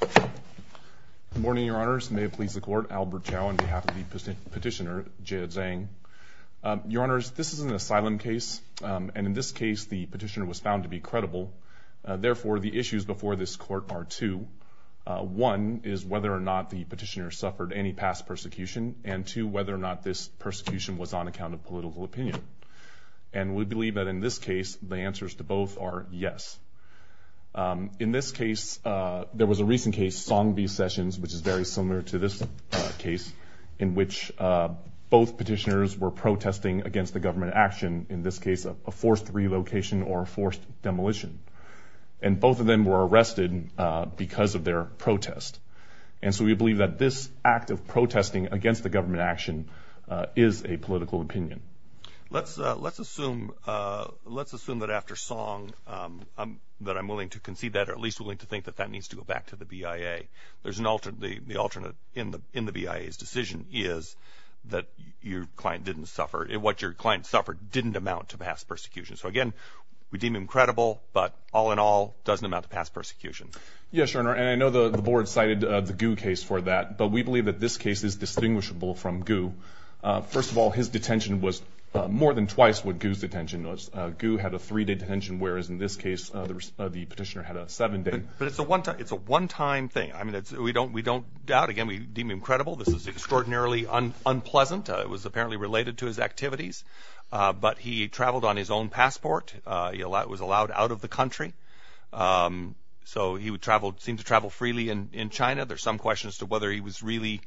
Good morning, Your Honors. May it please the Court, Albert Chao on behalf of the petitioner, Jie Zhang. Your Honors, this is an asylum case, and in this case, the petitioner was found to be credible. Therefore, the issues before this Court are two. One is whether or not the petitioner suffered any past persecution, and two, whether or not this persecution was on account of political opinion. And we believe that in this case, the answers to both are yes. In this case, there was a recent case, Song v. Sessions, which is very similar to this case, in which both petitioners were protesting against the government action, in this case, a forced relocation or a forced demolition. And both of them were arrested because of their protest. And so we believe that this act of protesting against the government action is a political opinion. Let's assume that after Song, that I'm willing to concede that, or at least willing to think that that needs to go back to the BIA. The alternate in the BIA's decision is that what your client suffered didn't amount to past persecution. So again, we deem him credible, but all in all, doesn't amount to past persecution. Yes, Your Honor, and I know the Board cited the Gu case for that, but we believe that this case is distinguishable from Gu. First of all, his detention was more than twice what Gu's detention was. Gu had a three-day detention, whereas in this case, the petitioner had a seven-day. But it's a one-time thing. I mean, we don't doubt. Again, we deem him credible. This is extraordinarily unpleasant. It was apparently related to his activities. But he traveled on his own passport. He was allowed out of the country. So he would travel, seem to travel freely in China. There's some question as to whether he was really,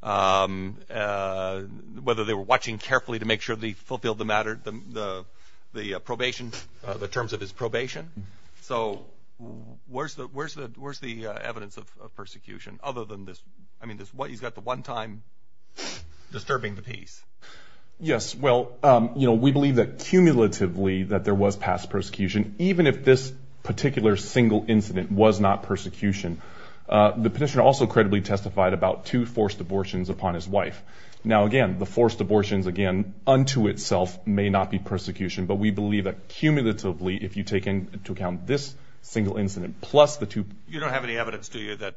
whether they were watching carefully to make sure they fulfilled the matter, the probation, the terms of his probation. So where's the evidence of persecution, other than this? I mean, he's got the one-time disturbing the piece. Yes, well, you know, we believe that cumulatively that there was past persecution, even if this particular single incident was not persecution. The petitioner also credibly testified about two forced abortions upon his wife. Now, again, the forced abortions, again, unto itself may not be persecution, but we believe that cumulatively, if you take into account this single incident plus the two... You don't have any evidence, do you, that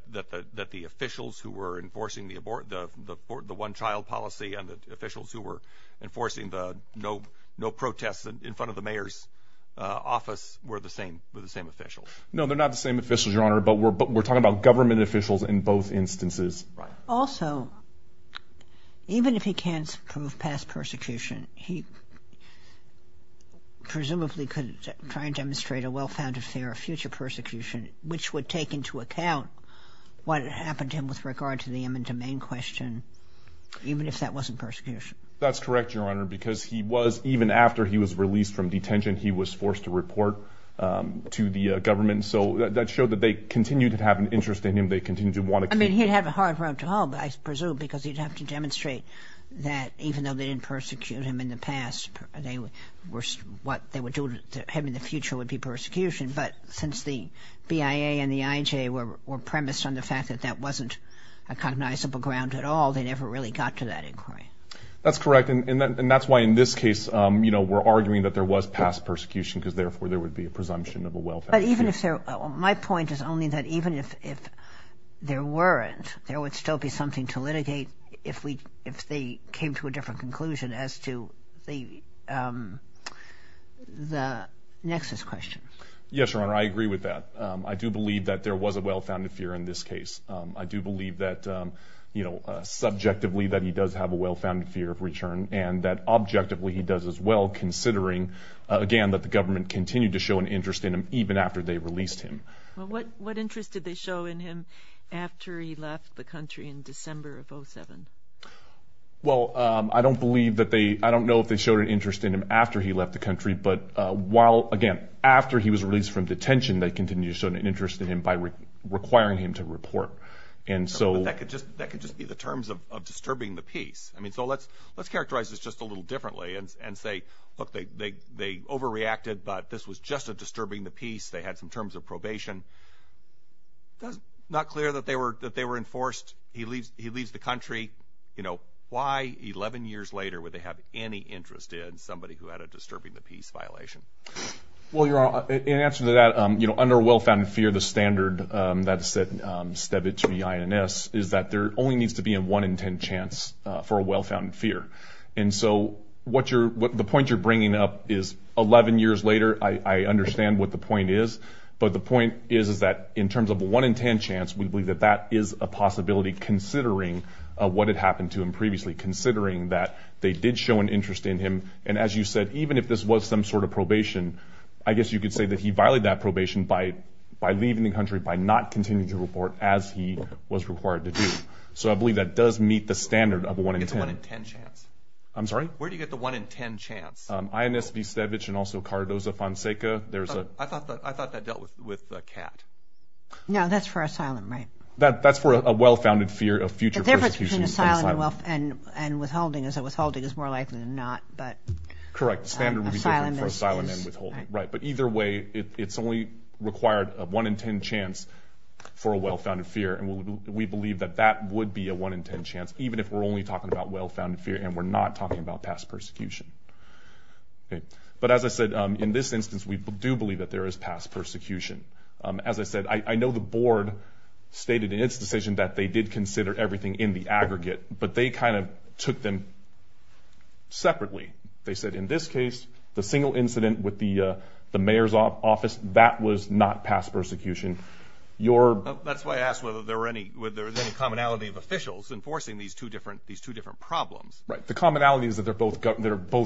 the officials who were enforcing the one-child policy and the officials who were enforcing the no protest in front of the mayor's office were the same officials? No, they're not the same officials, Your Honor, but we're talking about government officials in both instances. Also, even if he can't prove past persecution, he presumably could try and demonstrate a well-founded fear of future persecution, which would take into account what had happened to him with regard to the eminent domain question, even if that wasn't persecution. That's correct, Your Honor, because he was, even after he was released from detention, he was forced to report to the government. So that showed that they continued to have an interest in him. They continued to want to keep... I mean, he'd have a hard road to home, I presume, because he'd have to demonstrate that even though they didn't persecute him in the past, what they would do to him in the future would be persecution. But since the BIA and the IJ were premised on the fact that that wasn't a cognizable ground at all, they never really got to that inquiry. That's correct, and that's why in this case we're arguing that there was past persecution because therefore there would be a presumption of a well-founded fear. But even if there... My point is only that even if there weren't, there would still be something to litigate if they came to a different conclusion as to the nexus question. Yes, Your Honor, I agree with that. I do believe that there was a well-founded fear in this case. I do believe that subjectively that he does have a well-founded fear of return and that objectively he does as well, considering, again, that the government continued to show an interest in him even after they released him. What interest did they show in him after he left the country in December of 2007? Well, I don't believe that they... I don't know if they showed an interest in him after he left the country, but while... Again, after he was released from detention they continued to show an interest in him by requiring him to report. That could just be the terms of disturbing the peace. I mean, so let's characterize this just a little differently and say, look, they overreacted, but this was just a disturbing the peace. They had some terms of probation. It's not clear that they were enforced. He leaves the country. Why 11 years later would they have any interest in somebody who had a disturbing the peace violation? Well, Your Honor, in answer to that, under a well-founded fear, the standard that is set steadily to the INS is that there only needs to be a 1 in 10 chance for a well-founded fear. And so the point you're bringing up is 11 years later, I understand what the point is, but the point is that in terms of a 1 in 10 chance, we believe that that is a possibility considering what had happened to him previously, considering that they did show an interest in him. And as you said, even if this was some sort of probation, I guess you could say that he violated that probation by leaving the country, by not continuing to report as he was required to do. So I believe that does meet the standard of a 1 in 10. Where do you get the 1 in 10 chance? I'm sorry? Where do you get the 1 in 10 chance? INS Vistevich and also Cardoza Fonseca. I thought that dealt with Catt. No, that's for asylum, right? That's for a well-founded fear of future persecution. And withholding is more likely than not. Correct. Standard reserve for asylum and withholding. Right. But either way, it's only required a 1 in 10 chance for a well-founded fear, and we believe that that would be a 1 in 10 chance, even if we're only talking about well-founded fear and we're not talking about past persecution. But as I said, in this instance, we do believe that there is past persecution. As I said, I know the board stated in its decision that they did consider everything in the aggregate, but they kind of took them separately. They said in this case, the single incident with the mayor's office, that was not past persecution. That's why I asked whether there was any commonality of officials enforcing these two different problems. Right. The commonality is that they're both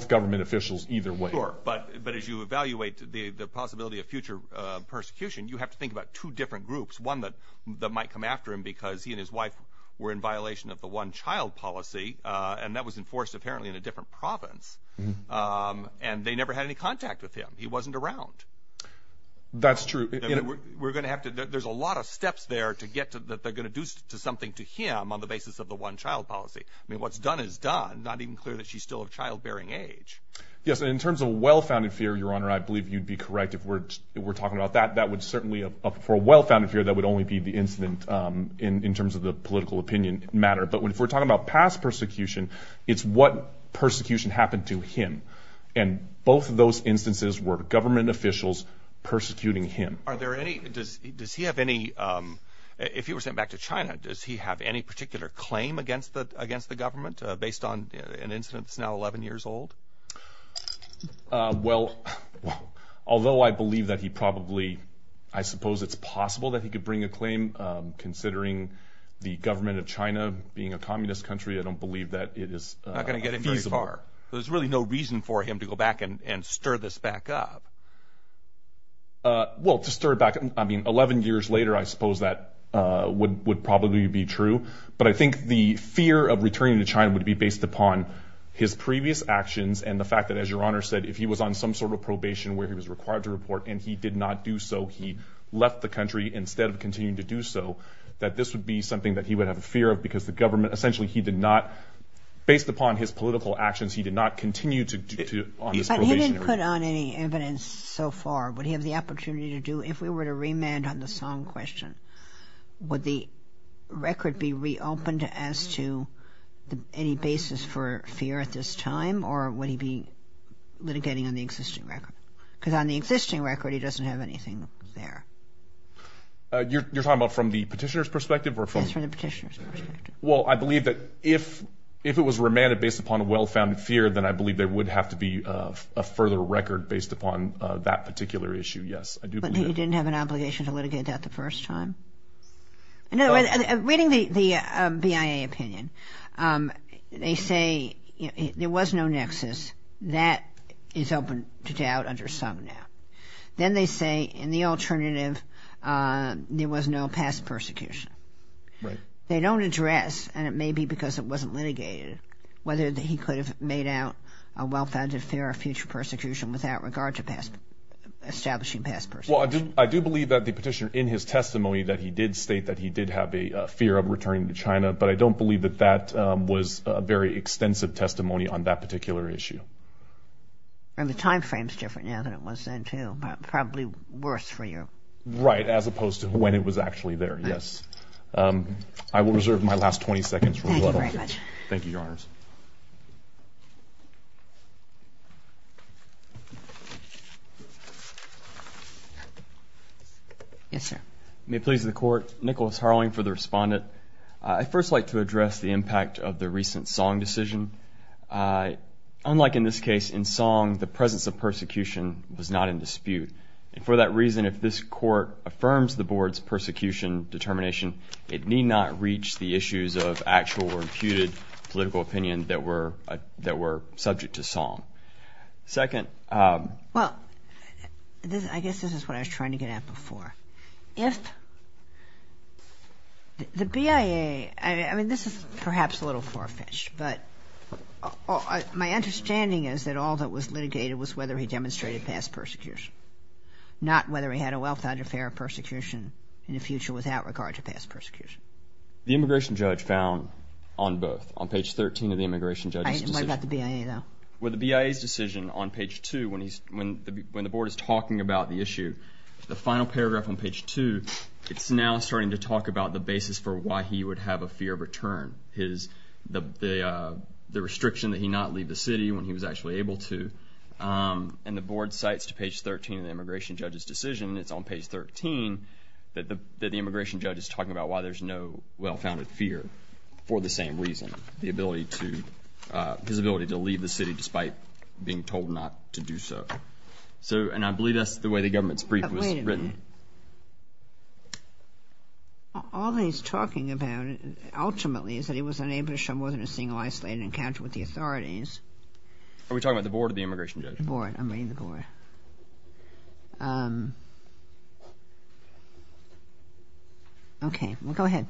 government officials either way. Sure. But as you evaluate the possibility of future persecution, you have to think about two different groups, one that might come after him because he and his wife were in violation of the one-child policy, and that was enforced apparently in a different province, and they never had any contact with him. He wasn't around. That's true. There's a lot of steps there that they're going to do something to him on the basis of the one-child policy. I mean, what's done is done, not even clear that she's still of childbearing age. Yes, and in terms of well-founded fear, Your Honor, I believe you'd be correct if we're talking about that. That would certainly, for a well-founded fear, that would only be the incident in terms of the political opinion matter. But if we're talking about past persecution, it's what persecution happened to him, and both of those instances were government officials persecuting him. Are there any – does he have any – if he were sent back to China, does he have any particular claim against the government based on an incident that's now 11 years old? Well, although I believe that he probably – I suppose it's possible that he could bring a claim, considering the government of China being a communist country, I don't believe that it is feasible. Not going to get him very far. There's really no reason for him to go back and stir this back up. Well, to stir it back – I mean, 11 years later, I suppose that would probably be true. But I think the fear of returning to China would be based upon his previous actions and the fact that, as Your Honor said, if he was on some sort of probation where he was required to report and he did not do so, he left the country instead of continuing to do so, that this would be something that he would have a fear of because the government – essentially, he did not – based upon his political actions, he did not continue to – But he didn't put on any evidence so far. Would he have the opportunity to do – if we were to remand on the Song question, would the record be reopened as to any basis for fear at this time, or would he be litigating on the existing record? Because on the existing record, he doesn't have anything there. You're talking about from the petitioner's perspective or from – Yes, from the petitioner's perspective. Well, I believe that if it was remanded based upon a well-founded fear, then I believe there would have to be a further record based upon that particular issue, yes. But he didn't have an obligation to litigate that the first time? No, reading the BIA opinion, they say there was no nexus. That is open to doubt under some now. Then they say in the alternative, there was no past persecution. Right. They don't address, and it may be because it wasn't litigated, whether he could have made out a well-founded fear of future persecution without regard to establishing past persecution. Well, I do believe that the petitioner, in his testimony, that he did state that he did have a fear of returning to China, but I don't believe that that was a very extensive testimony on that particular issue. And the time frame is different now than it was then, too. Probably worse for you. Right, as opposed to when it was actually there, yes. I will reserve my last 20 seconds. Thank you very much. Thank you, Your Honors. Yes, sir. May it please the Court. Nicholas Harling for the Respondent. I'd first like to address the impact of the recent Song decision. Unlike in this case, in Song, the presence of persecution was not in dispute. And for that reason, if this Court affirms the Board's persecution determination, it need not reach the issues of actual or imputed political opinion that were subject to Song. Second. Well, I guess this is what I was trying to get at before. If the BIA, I mean, this is perhaps a little far-fetched, but my understanding is that all that was litigated was whether he demonstrated past persecution, not whether he had a well-thought-out affair of persecution in the future without regard to past persecution. The immigration judge found on both, on page 13 of the immigration judge's decision. What about the BIA, though? Well, the BIA's decision on page 2, when the Board is talking about the issue, the final paragraph on page 2, it's now starting to talk about the basis for why he would have a fear of return, the restriction that he not leave the city when he was actually able to. And the Board cites to page 13 of the immigration judge's decision, and it's on page 13, that the immigration judge is talking about why there's no well-founded fear for the same reason, the ability to, his ability to leave the city despite being told not to do so. So, and I believe that's the way the government's brief was written. But wait a minute. All that he's talking about, ultimately, is that he was unable to show more than a single isolated encounter with the authorities. Are we talking about the Board or the immigration judge? The Board. I'm reading the Board. Okay. Go ahead.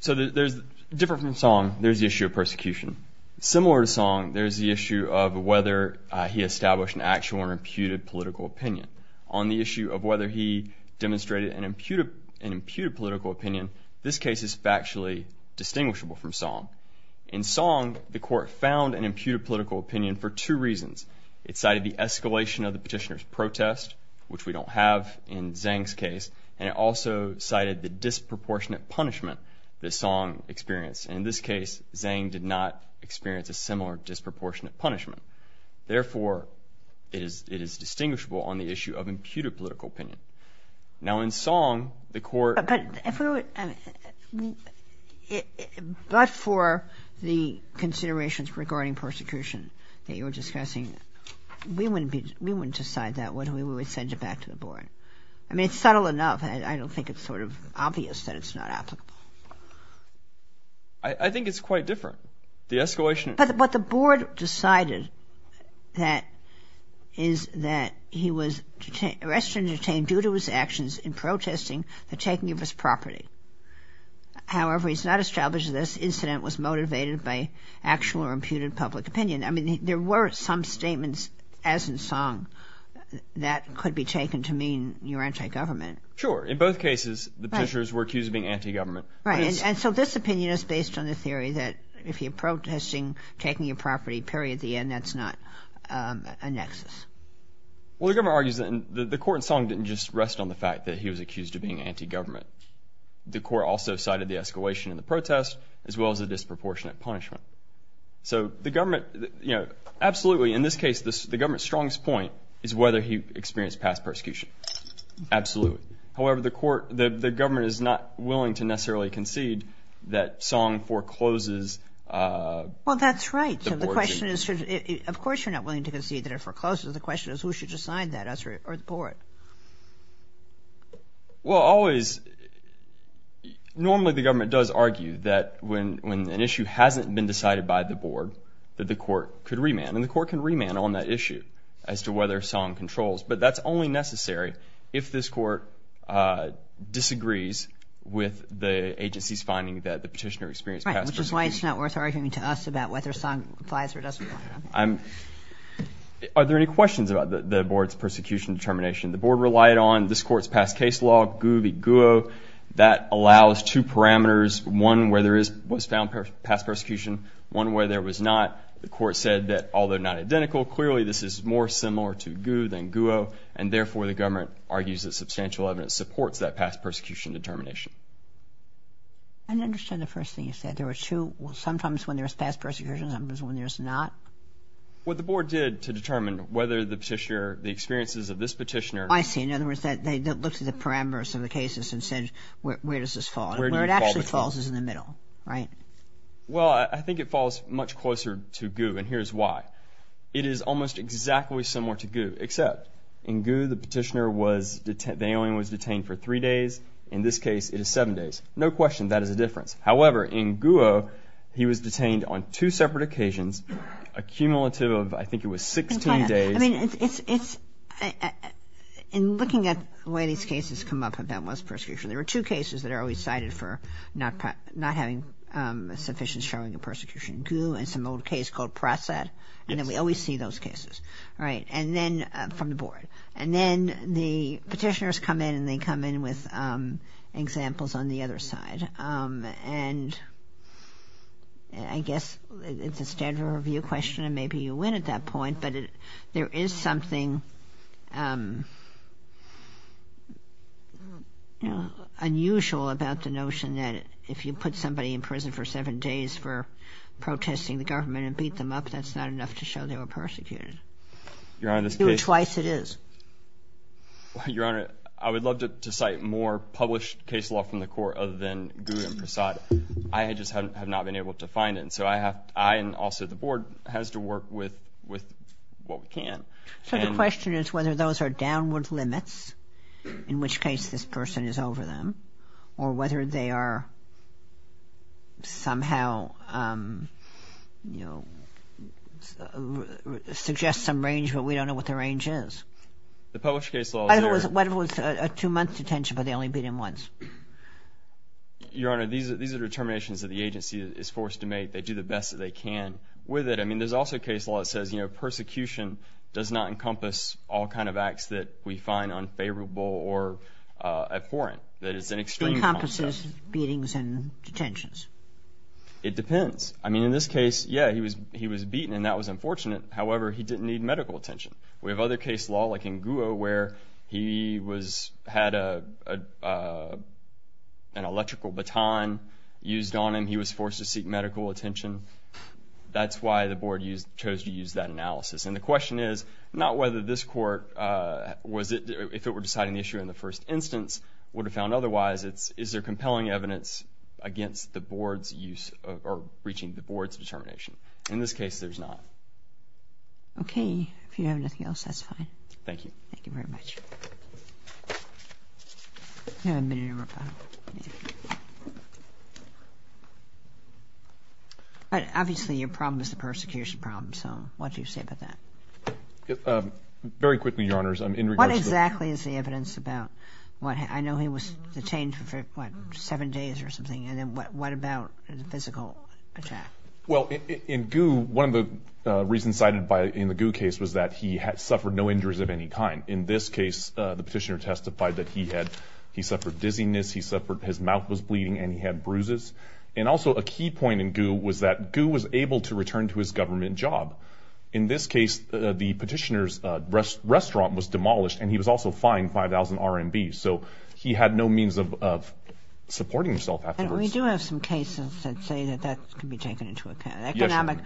So there's, different from Song, there's the issue of persecution. Similar to Song, there's the issue of whether he established an actual or imputed political opinion. On the issue of whether he demonstrated an imputed political opinion, this case is factually distinguishable from Song. In Song, the court found an imputed political opinion for two reasons. It cited the escalation of the petitioner's protest, which we don't have in Zhang's case, and it also cited the disproportionate punishment that Song experienced. And in this case, Zhang did not experience a similar disproportionate punishment. Therefore, it is distinguishable on the issue of imputed political opinion. Now, in Song, the court… But if we were… But for the considerations regarding persecution that you were discussing, we wouldn't decide that. We would send it back to the Board. I mean, it's subtle enough. I don't think it's sort of obvious that it's not applicable. I think it's quite different. The escalation… But the Board decided that, is that he was arrested and detained due to his actions in protesting the taking of his property. However, it's not established that this incident was motivated by actual or imputed public opinion. I mean, there were some statements, as in Song, that could be taken to mean you're anti-government. Sure. In both cases, the petitioners were accused of being anti-government. Right. And so this opinion is based on the theory that if you're protesting taking your property, period, at the end, that's not a nexus. Well, the government argues that… The court in Song didn't just rest on the fact that he was accused of being anti-government. The court also cited the escalation in the protest, as well as the disproportionate punishment. So the government… Absolutely, in this case, the government's strongest point is whether he experienced past persecution. Absolutely. However, the court… The government is not willing to necessarily concede that Song forecloses… Well, that's right. Of course you're not willing to concede that he forecloses. The question is who should decide that, us or the board? Well, normally the government does argue that when an issue hasn't been decided by the board, that the court could remand. And the court can remand on that issue as to whether Song controls. But that's only necessary if this court disagrees with the agency's finding that the petitioner experienced past persecution. That's why it's not worth arguing to us about whether Song complies or doesn't. Are there any questions about the board's persecution determination? The board relied on this court's past case law, GU v. GUO. That allows two parameters, one where there was found past persecution, one where there was not. The court said that, although not identical, clearly this is more similar to GU than GUO, and therefore the government argues that substantial evidence supports that past persecution determination. I don't understand the first thing you said. There were two, sometimes when there was past persecution, sometimes when there was not. What the board did to determine whether the petitioner, the experiences of this petitioner. I see. In other words, they looked at the parameters of the cases and said, where does this fall? Where it actually falls is in the middle, right? Well, I think it falls much closer to GUO, and here's why. It is almost exactly similar to GUO, except in GUO the petitioner was, the alien was detained for three days. In this case, it is seven days. No question that is a difference. However, in GUO, he was detained on two separate occasions, a cumulative of, I think it was 16 days. I mean, it's, in looking at the way these cases come up, if that was persecution, there were two cases that are always cited for not having sufficient showing of persecution. GU and some old case called PROSET, and then we always see those cases, right, from the board. And then the petitioners come in, and they come in with examples on the other side. And I guess it's a standard review question, and maybe you win at that point, but there is something unusual about the notion that if you put somebody in prison for seven days for protesting the government and beat them up, that's not enough to show they were persecuted. Your Honor, this case — Two or twice it is. Your Honor, I would love to cite more published case law from the court other than GUO and PROSET. I just have not been able to find it. And so I have to, I and also the board, has to work with what we can. So the question is whether those are downward limits, in which case this person is over them, or whether they are somehow, you know, suggest some range, but we don't know what the range is. The published case law there — What if it was a two-month detention, but they only beat him once? Your Honor, these are determinations that the agency is forced to make. They do the best that they can with it. I mean, there's also a case law that says, you know, persecution does not encompass all kind of acts that we find unfavorable or abhorrent. That it's an extreme process. It encompasses beatings and detentions. It depends. I mean, in this case, yeah, he was beaten, and that was unfortunate. However, he didn't need medical attention. We have other case law, like in GUO, where he had an electrical baton used on him. He was forced to seek medical attention. That's why the board chose to use that analysis. And the question is not whether this court, if it were deciding the issue in the first instance, would have found otherwise. It's is there compelling evidence against the board's use or reaching the board's determination. In this case, there's not. Okay. If you don't have anything else, that's fine. Thank you. Thank you very much. Obviously, your problem is the persecution problem. So what do you say about that? Very quickly, Your Honors. What exactly is the evidence about? I know he was detained for, what, seven days or something. And then what about the physical attack? Well, in GUO, one of the reasons cited in the GUO case was that he suffered no injuries of any kind. In this case, the petitioner testified that he suffered dizziness, his mouth was bleeding, and he had bruises. And also, a key point in GUO was that GUO was able to return to his government job. In this case, the petitioner's restaurant was demolished, and he was also fined 5,000 RMB. So he had no means of supporting himself afterwards. And we do have some cases that say that that can be taken into account. Economic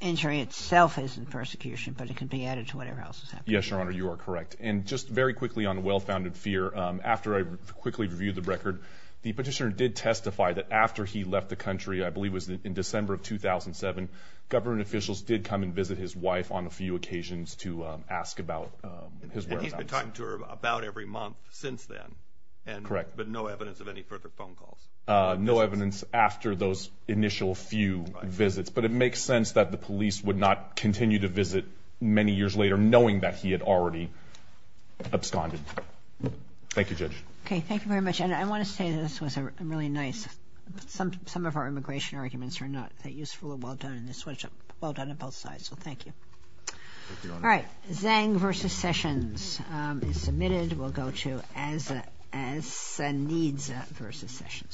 injury itself isn't persecution, but it can be added to whatever else is happening. Yes, Your Honor, you are correct. And just very quickly on well-founded fear, after I quickly reviewed the record, the petitioner did testify that after he left the country, I believe it was in December of 2007, government officials did come and visit his wife on a few occasions to ask about his whereabouts. And he's been talking to her about every month since then. Correct. But no evidence of any further phone calls. No evidence after those initial few visits. Right. But it makes sense that the police would not continue to visit many years later knowing that he had already absconded. Thank you, Judge. Okay. Thank you very much. And I want to say this was really nice. Some of our immigration arguments are not that useful. Well done on both sides. So thank you. Thank you, Your Honor. All right. Zhang v. Sessions is submitted. We'll go to Azsa Needs v. Sessions.